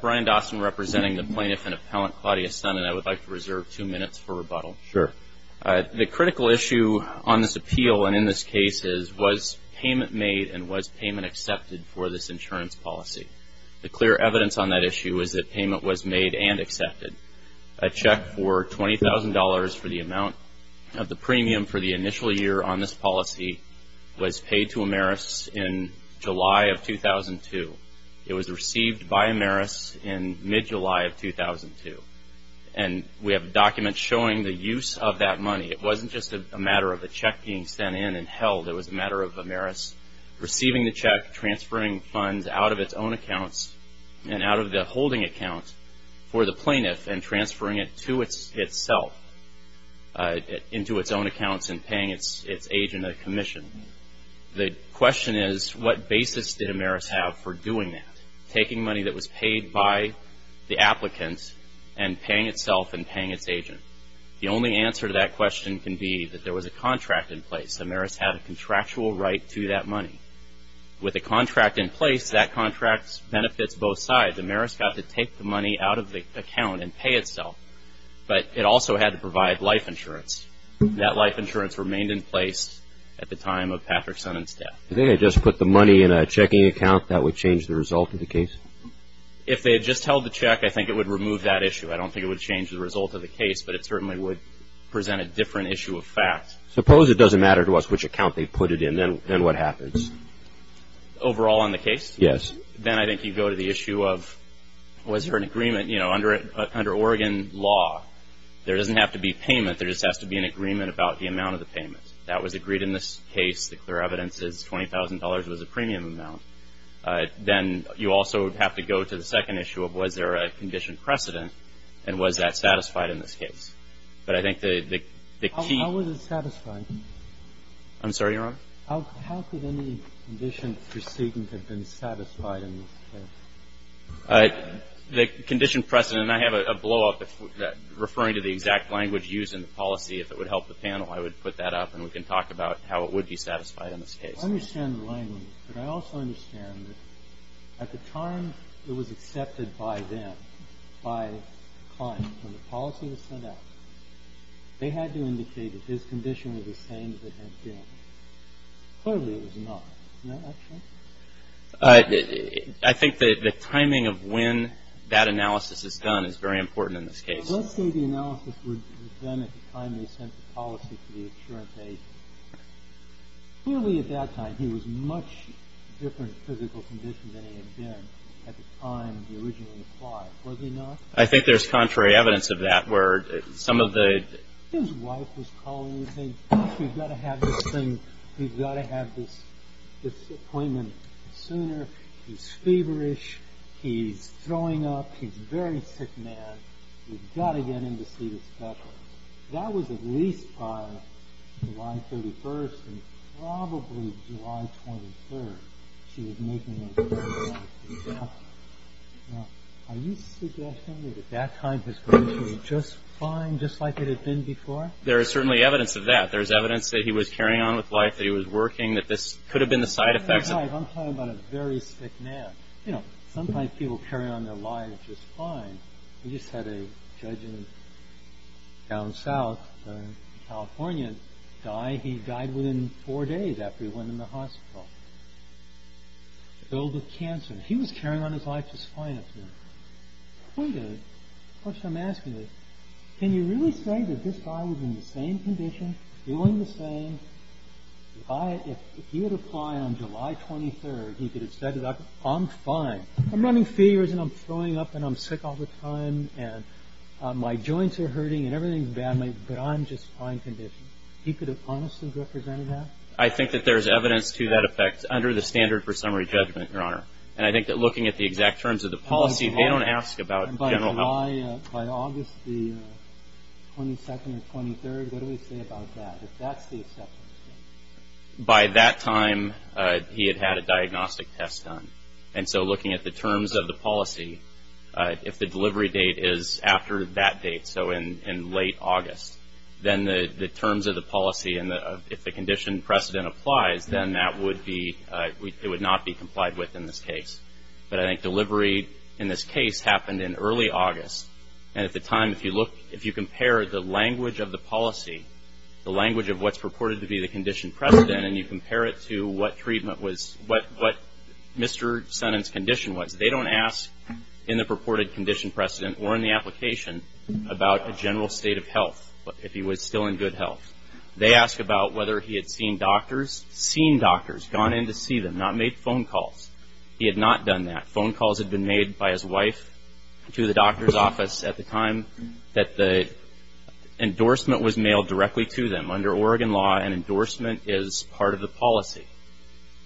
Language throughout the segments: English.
Brian Dawson, representing the Plaintiff and Appellant, Claudia Stunnen. I would like to reserve two minutes for rebuttal. Sure. The critical issue on this appeal and in this case is, was payment made and was payment accepted for this insurance policy? The clear evidence on that issue is that payment was made and accepted. A check for $20,000 for the amount of the premium for the initial year on this policy was paid to AmerUS in July of 2002. It was received by AmerUS in mid-July of 2002. And we have documents showing the use of that money. It wasn't just a matter of a check being sent in and held. It was a matter of AmerUS receiving the check, transferring funds out of its own accounts and out of the holding account for the plaintiff and transferring it to itself, into its own accounts and paying its agent a commission. The question is, what basis did AmerUS have for doing that, taking money that was paid by the applicant and paying itself and paying its agent? The only answer to that question can be that there was a contract in place. AmerUS had a contractual right to that money. With a contract in place, that contract benefits both sides. AmerUS got to take the money out of the account and pay itself, but it also had to provide life insurance. That life insurance remained in place at the time of Patrick's son's death. If they had just put the money in a checking account, that would change the result of the case? If they had just held the check, I think it would remove that issue. I don't think it would change the result of the case, but it certainly would present a different issue of fact. Suppose it doesn't matter to us which account they put it in. Then what happens? Overall on the case? Yes. Then I think you go to the issue of, was there an agreement? Under Oregon law, there doesn't have to be payment. There just has to be an agreement about the amount of the payment. That was agreed in this case. The clear evidence is $20,000 was a premium amount. Then you also have to go to the second issue of, was there a condition precedent, and was that satisfied in this case? But I think the key — How was it satisfied? I'm sorry, Your Honor? How could any condition precedent have been satisfied in this case? The condition precedent, and I have a blowup referring to the exact language used in the policy. If it would help the panel, I would put that up, and we can talk about how it would be satisfied in this case. I understand the language, but I also understand that at the time it was accepted by them, by the client, when the policy was set up, they had to indicate that his condition was the same as it had been. Clearly it was not. Isn't that right? I think the timing of when that analysis is done is very important in this case. Let's say the analysis was done at the time they sent the policy to the insurance agent. Clearly at that time he was in a much different physical condition than he had been at the time he originally applied, was he not? I think there's contrary evidence of that where some of the — His wife was calling and saying, We've got to have this thing. We've got to have this appointment sooner. He's feverish. He's throwing up. He's a very sick man. We've got to get him to see the specialist. That was at least by July 31st and probably July 23rd. She was making that exact example. Now, are you suggesting that at that time his condition was just fine, just like it had been before? There is certainly evidence of that. There is evidence that he was carrying on with life, that he was working, that this could have been the side effects. That's right. I'm talking about a very sick man. You know, sometimes people carry on their lives just fine. We just had a judge down south in California die. He died within four days after he went in the hospital. Filled with cancer. He was carrying on his life just fine up to that point. The point is, the question I'm asking is, can you really say that this guy was in the same condition, doing the same? If he had applied on July 23rd, he could have said, I'm fine. I'm running fevers and I'm throwing up and I'm sick all the time and my joints are hurting and everything's bad, but I'm just fine condition. He could have honestly represented that? I think that there's evidence to that effect under the standard for summary judgment, Your Honor. And I think that looking at the exact terms of the policy, they don't ask about general health. By August 22nd or 23rd, what do we say about that, if that's the acceptance date? By that time, he had had a diagnostic test done. And so looking at the terms of the policy, if the delivery date is after that date, so in late August, then the terms of the policy and if the condition precedent applies, then that would be, it would not be complied with in this case. But I think delivery in this case happened in early August. And at the time, if you look, if you compare the language of the policy, the language of what's purported to be the condition precedent and you compare it to what treatment was, what Mr. Sonnen's condition was, they don't ask in the purported condition precedent or in the application about a general state of health, if he was still in good health. They ask about whether he had seen doctors, seen doctors, gone in to see them, not made phone calls. He had not done that. Phone calls had been made by his wife to the doctor's office at the time that the endorsement was mailed directly to them. Under Oregon law, an endorsement is part of the policy.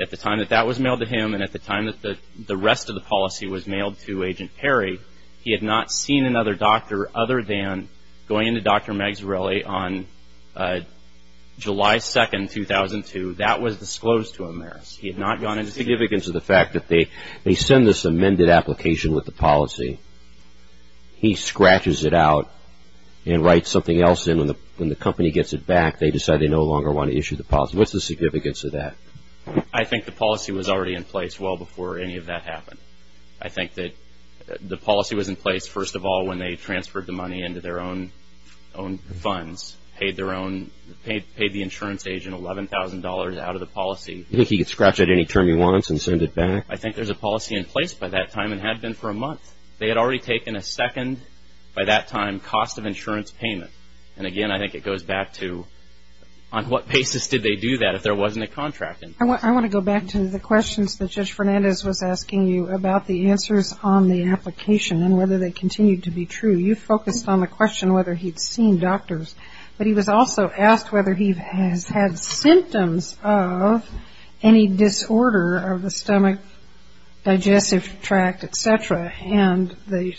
At the time that that was mailed to him and at the time that the rest of the policy was mailed to Agent Perry, he had not seen another doctor other than going in to Dr. Magsirelli on July 2, 2002. That was disclosed to him there. He had not gone in. The significance of the fact that they send this amended application with the policy, he scratches it out and writes something else in. When the company gets it back, they decide they no longer want to issue the policy. What's the significance of that? I think the policy was already in place well before any of that happened. I think that the policy was in place, first of all, when they transferred the money into their own funds, paid the insurance agent $11,000 out of the policy. You think he could scratch out any term he wants and send it back? I think there's a policy in place by that time and had been for a month. They had already taken a second, by that time, cost of insurance payment. And, again, I think it goes back to on what basis did they do that if there wasn't a contract in place? I want to go back to the questions that Judge Fernandez was asking you about the answers on the application and whether they continue to be true. You focused on the question whether he'd seen doctors, but he was also asked whether he has had symptoms of any disorder of the stomach, digestive tract, et cetera. And the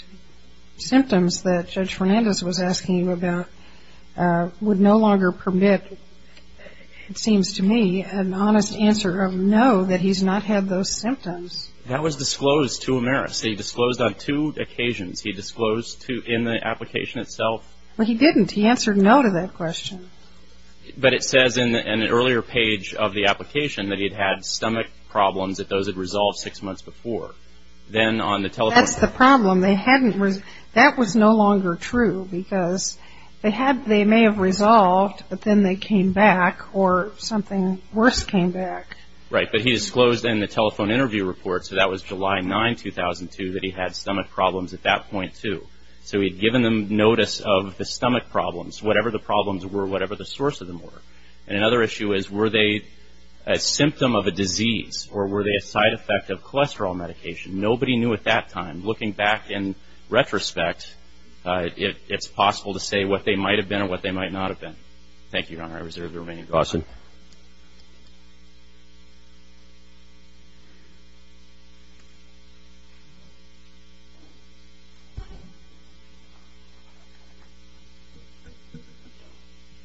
symptoms that Judge Fernandez was asking you about would no longer permit, it seems to me, an honest answer of no, that he's not had those symptoms. That was disclosed to Ameris. He disclosed on two occasions. He disclosed in the application itself. Well, he didn't. He answered no to that question. But it says in an earlier page of the application that he'd had stomach problems that those had resolved six months before. That's the problem. That was no longer true because they may have resolved, but then they came back or something worse came back. Right. But he disclosed in the telephone interview report, so that was July 9, 2002, that he had stomach problems at that point too. So he'd given them notice of the stomach problems, whatever the problems were, whatever the source of them were. And another issue is were they a symptom of a disease or were they a side effect of cholesterol medication? Nobody knew at that time. And looking back in retrospect, it's possible to say what they might have been and what they might not have been. Thank you, Your Honor. I reserve the remaining time. Awesome.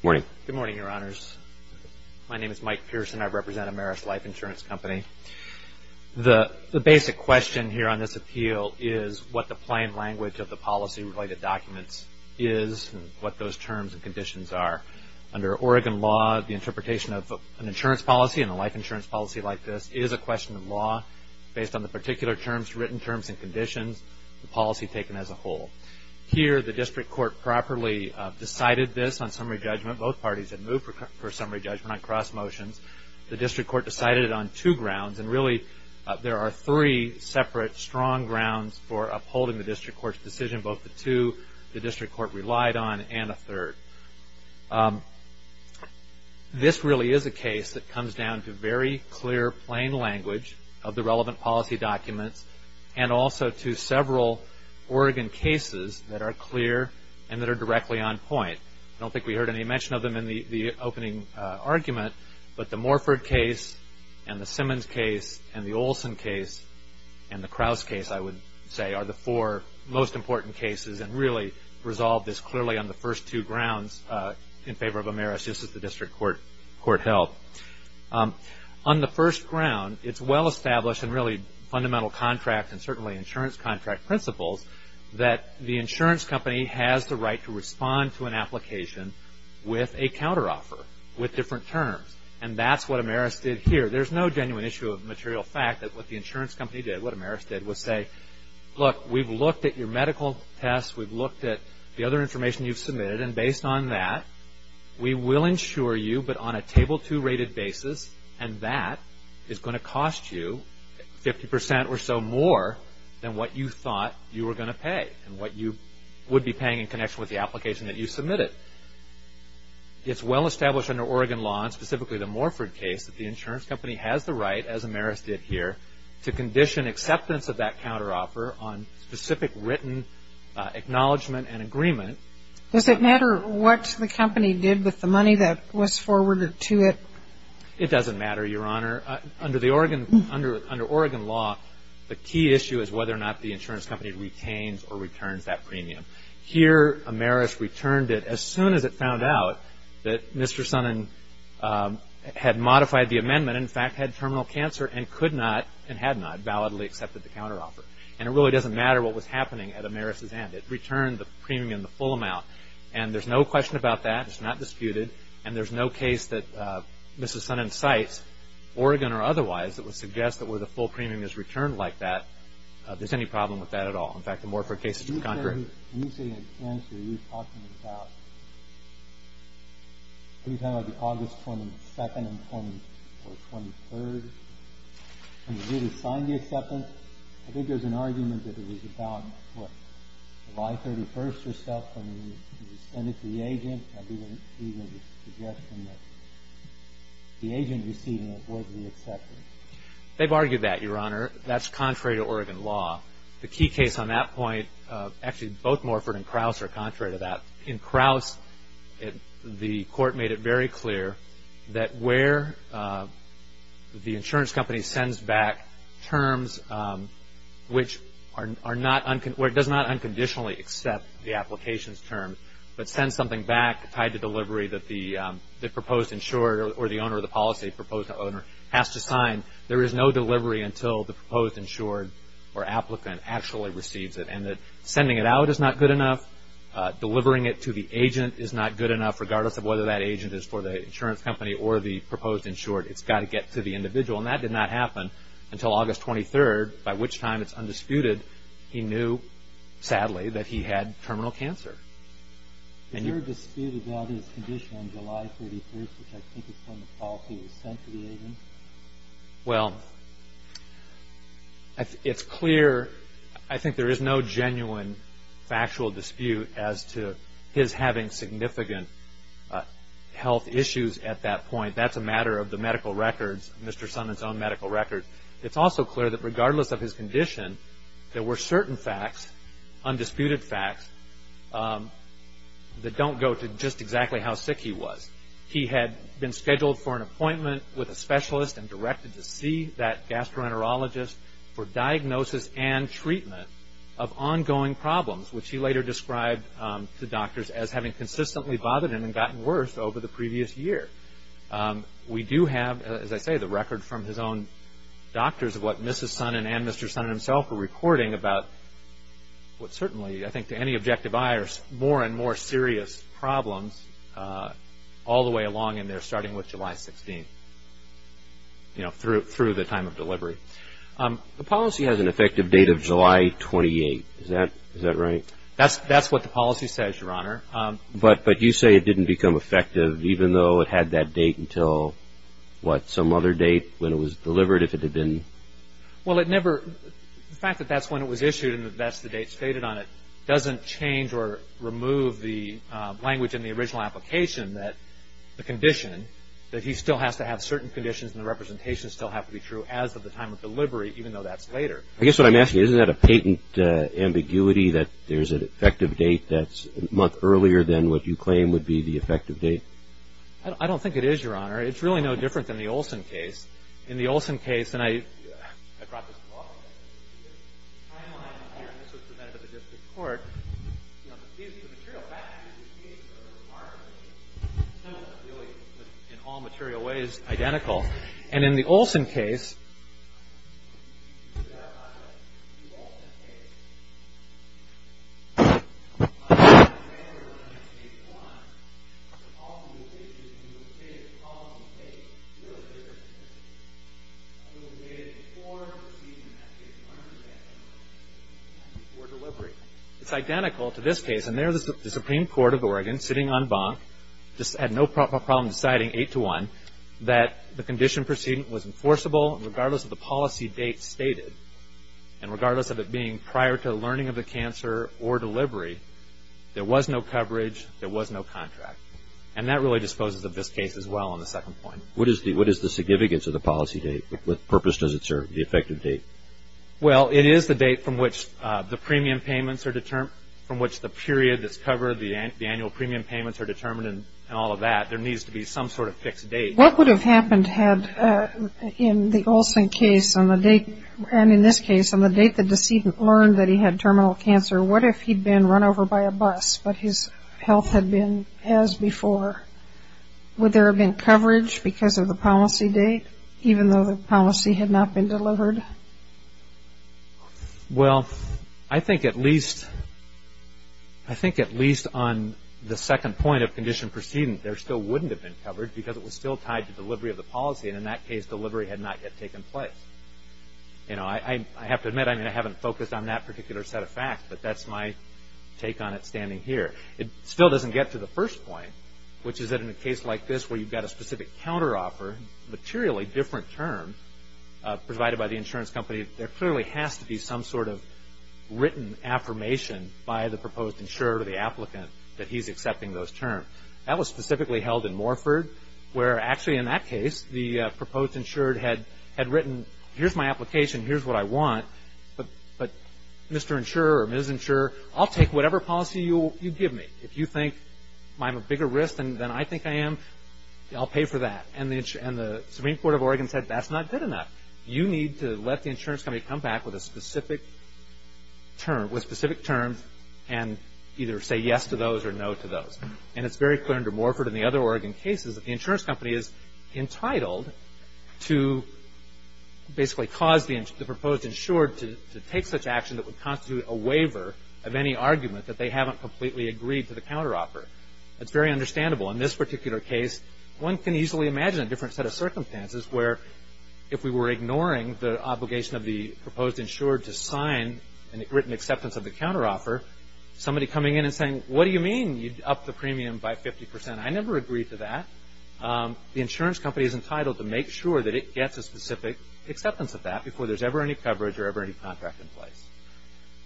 Morning. Good morning, Your Honors. My name is Mike Pearson. I represent Ameris Life Insurance Company. The basic question here on this appeal is what the plain language of the policy-related documents is and what those terms and conditions are. Under Oregon law, the interpretation of an insurance policy and a life insurance policy like this is a question of law based on the particular terms, written terms and conditions, the policy taken as a whole. Here, the district court properly decided this on summary judgment. Both parties had moved for summary judgment on cross motions. The district court decided it on two grounds, and really there are three separate strong grounds for upholding the district court's decision, both the two the district court relied on and a third. This really is a case that comes down to very clear, plain language of the relevant policy documents and also to several Oregon cases that are clear and that are directly on point. I don't think we heard any mention of them in the opening argument, but the Morford case and the Simmons case and the Olson case and the Krause case, I would say, are the four most important cases and really resolved this clearly on the first two grounds in favor of Ameris. This is the district court held. On the first ground, it's well-established and really fundamental contract and certainly insurance contract principles that the insurance company has the right to respond to an application with a counteroffer with different terms, and that's what Ameris did here. There's no genuine issue of material fact that what the insurance company did, what Ameris did was say, look, we've looked at your medical tests. We've looked at the other information you've submitted, and based on that we will insure you, but on a table two rated basis, and that is going to cost you 50% or so more than what you thought you were going to pay and what you would be paying in connection with the application that you submitted. It's well-established under Oregon law, and specifically the Morford case, that the insurance company has the right, as Ameris did here, to condition acceptance of that counteroffer on specific written acknowledgement and agreement. Does it matter what the company did with the money that was forwarded to it? It doesn't matter, Your Honor. Under Oregon law, the key issue is whether or not the insurance company retains or returns that premium. Here, Ameris returned it as soon as it found out that Mr. Sonnen had modified the amendment and, in fact, had terminal cancer and could not and had not validly accepted the counteroffer. And it really doesn't matter what was happening at Ameris' end. It returned the premium, the full amount, and there's no question about that. It's not disputed, and there's no case that Mr. Sonnen cites, Oregon or otherwise, that would suggest that where the full premium is returned like that, there's any problem with that at all. In fact, the Morpher case is concrete. When you say the answer, you're talking about, what do you call it, August 22nd or 23rd, when you did assign the acceptance? I think there's an argument that it was about, what, July 31st or something, when you sent it to the agent, and he was suggesting that the agent receiving it was the acceptor. They've argued that, Your Honor. That's contrary to Oregon law. The key case on that point, actually both Morpher and Krauss are contrary to that. In Krauss, the court made it very clear that where the insurance company sends back terms which does not unconditionally accept the application's term, but sends something back tied to delivery that the proposed insurer or the owner of the policy, the proposed owner, has to sign, there is no delivery until the proposed insured or applicant actually receives it. And that sending it out is not good enough. Delivering it to the agent is not good enough, regardless of whether that agent is for the insurance company or the proposed insured. It's got to get to the individual. And that did not happen until August 23rd, by which time it's undisputed. He knew, sadly, that he had terminal cancer. Is there a dispute about his condition on July 33rd, which I think is when the policy was sent to the agent? Well, it's clear. I think there is no genuine factual dispute as to his having significant health issues at that point. That's a matter of the medical records, Mr. Sonnen's own medical records. It's also clear that, regardless of his condition, there were certain facts, undisputed facts, that don't go to just exactly how sick he was. He had been scheduled for an appointment with a specialist and directed to see that gastroenterologist for diagnosis and treatment of ongoing problems, which he later described to doctors as having consistently bothered him and gotten worse over the previous year. We do have, as I say, the record from his own doctors in terms of what Mrs. Sonnen and Mr. Sonnen himself were reporting about what certainly, I think to any objective eye, are more and more serious problems all the way along, and they're starting with July 16th, you know, through the time of delivery. The policy has an effective date of July 28th. Is that right? That's what the policy says, Your Honor. But you say it didn't become effective even though it had that date until, what, some other date when it was delivered if it had been? Well, it never – the fact that that's when it was issued and that that's the date stated on it doesn't change or remove the language in the original application that the condition, that he still has to have certain conditions and the representations still have to be true as of the time of delivery, even though that's later. I guess what I'm asking, isn't that a patent ambiguity that there's an effective date that's a month earlier than what you claim would be the effective date? I don't think it is, Your Honor. It's really no different than the Olson case. In the Olson case, and I brought this book, and this was presented at the district court, you know, the material facts of these cases are remarkably similar, really in all material ways identical. And in the Olson case – You said that, but in the Olson case, the client was there when it was 8 to 1, but also the issue is that you stated the problem was 8. It was 8 to 1. It was stated before the proceeding that it was an unexpected date, before delivery. It's identical to this case. And there the Supreme Court of Oregon, sitting on bonk, had no problem deciding 8 to 1 that the condition of proceeding was enforceable regardless of the policy date stated, and regardless of it being prior to the learning of the cancer or delivery, there was no coverage, there was no contract. And that really disposes of this case as well on the second point. What is the significance of the policy date? What purpose does it serve, the effective date? Well, it is the date from which the premium payments are determined, from which the period that's covered, the annual premium payments are determined and all of that. There needs to be some sort of fixed date. What would have happened had, in the Olson case and in this case, on the date the decedent learned that he had terminal cancer, what if he'd been run over by a bus, but his health had been as before? Would there have been coverage because of the policy date, even though the policy had not been delivered? Well, I think at least on the second point of condition proceeding, there still wouldn't have been coverage because it was still tied to delivery of the policy, and in that case delivery had not yet taken place. I have to admit I haven't focused on that particular set of facts, but that's my take on it standing here. It still doesn't get to the first point, which is that in a case like this where you've got a specific counteroffer, materially different term provided by the insurance company, there clearly has to be some sort of written affirmation by the proposed insurer or the applicant that he's accepting those terms. That was specifically held in Morford, where actually in that case the proposed insured had written, here's my application, here's what I want, but Mr. Insurer or Ms. Insurer, I'll take whatever policy you give me. If you think I'm a bigger risk than I think I am, I'll pay for that. And the Supreme Court of Oregon said that's not good enough. You need to let the insurance company come back with a specific term and either say yes to those or no to those. And it's very clear under Morford and the other Oregon cases that the insurance company is entitled to basically cause the proposed insured to take such action that would constitute a waiver of any argument that they haven't completely agreed to the counteroffer. That's very understandable. In this particular case, one can easily imagine a different set of circumstances where if we were ignoring the obligation of the proposed insured to sign a written acceptance of the counteroffer, somebody coming in and saying, what do you mean you'd up the premium by 50 percent? I never agreed to that. The insurance company is entitled to make sure that it gets a specific acceptance of that before there's ever any coverage or ever any contract in place.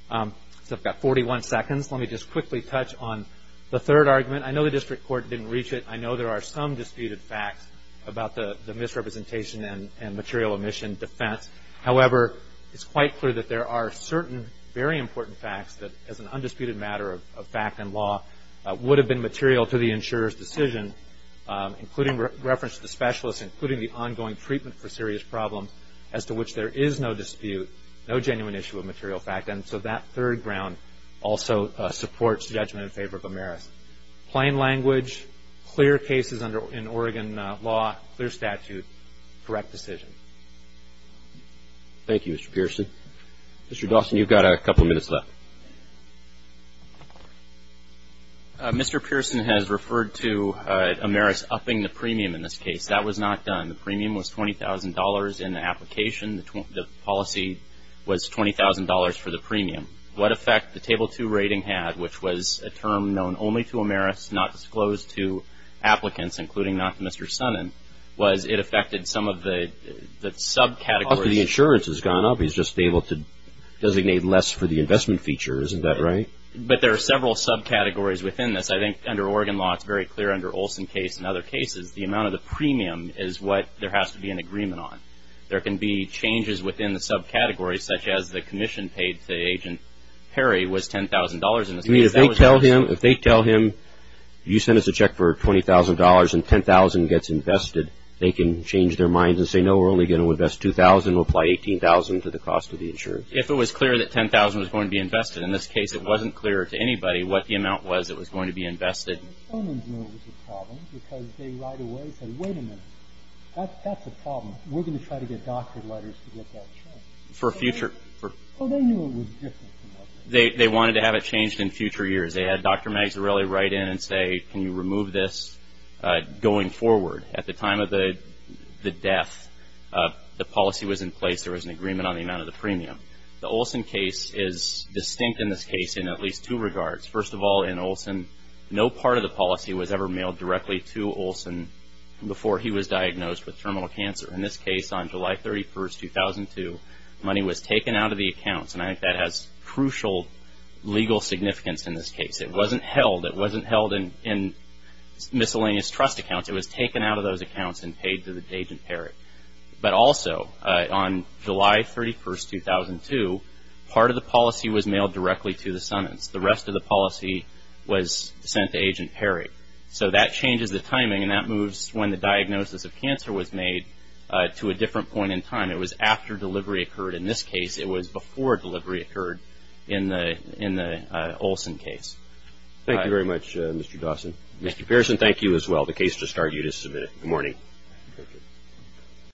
So I've got 41 seconds. Let me just quickly touch on the third argument. I know the district court didn't reach it. I know there are some disputed facts about the misrepresentation and material omission defense. However, it's quite clear that there are certain very important facts that as an undisputed matter of fact and law would have been material to the insurer's decision, including reference to the specialist, including the ongoing treatment for serious problems, as to which there is no dispute, no genuine issue of material fact. And so that third ground also supports judgment in favor of Ameris. Plain language, clear cases in Oregon law, clear statute, correct decision. Thank you, Mr. Pearson. Mr. Dawson, you've got a couple minutes left. Mr. Pearson has referred to Ameris upping the premium in this case. That was not done. The premium was $20,000 in the application. The policy was $20,000 for the premium. What effect the Table 2 rating had, which was a term known only to Ameris, not disclosed to applicants, including not to Mr. Sonnen, was it affected some of the subcategories? The insurance has gone up. He's just been able to designate less for the investment feature. Isn't that right? But there are several subcategories within this. I think under Oregon law, it's very clear under Olson's case and other cases, the amount of the premium is what there has to be an agreement on. There can be changes within the subcategories, such as the commission paid to Agent Perry was $10,000 in this case. If they tell him you sent us a check for $20,000 and $10,000 gets invested, they can change their minds and say, no, we're only going to invest $2,000. We'll apply $18,000 to the cost of the insurance. If it was clear that $10,000 was going to be invested, in this case it wasn't clear to anybody what the amount was that was going to be invested. Mr. Sonnen knew it was a problem because they right away said, wait a minute, that's a problem. We're going to try to get doctor letters to get that checked. For future. Well, they knew it was different. They wanted to have it changed in future years. They had Dr. Magsarelli write in and say, can you remove this going forward? At the time of the death, the policy was in place. There was an agreement on the amount of the premium. The Olson case is distinct in this case in at least two regards. First of all, in Olson, no part of the policy was ever mailed directly to Olson before he was diagnosed with terminal cancer. In this case, on July 31, 2002, money was taken out of the accounts, and I think that has crucial legal significance in this case. It wasn't held. It wasn't held in miscellaneous trust accounts. It was taken out of those accounts and paid to Agent Perry. But also, on July 31, 2002, part of the policy was mailed directly to the Sonnens. The rest of the policy was sent to Agent Perry. So that changes the timing, and that moves when the diagnosis of cancer was made to a different point in time. It was after delivery occurred. In this case, it was before delivery occurred in the Olson case. Thank you very much, Mr. Dawson. Mr. Pearson, thank you as well. The case just started. You just submitted it. Good morning.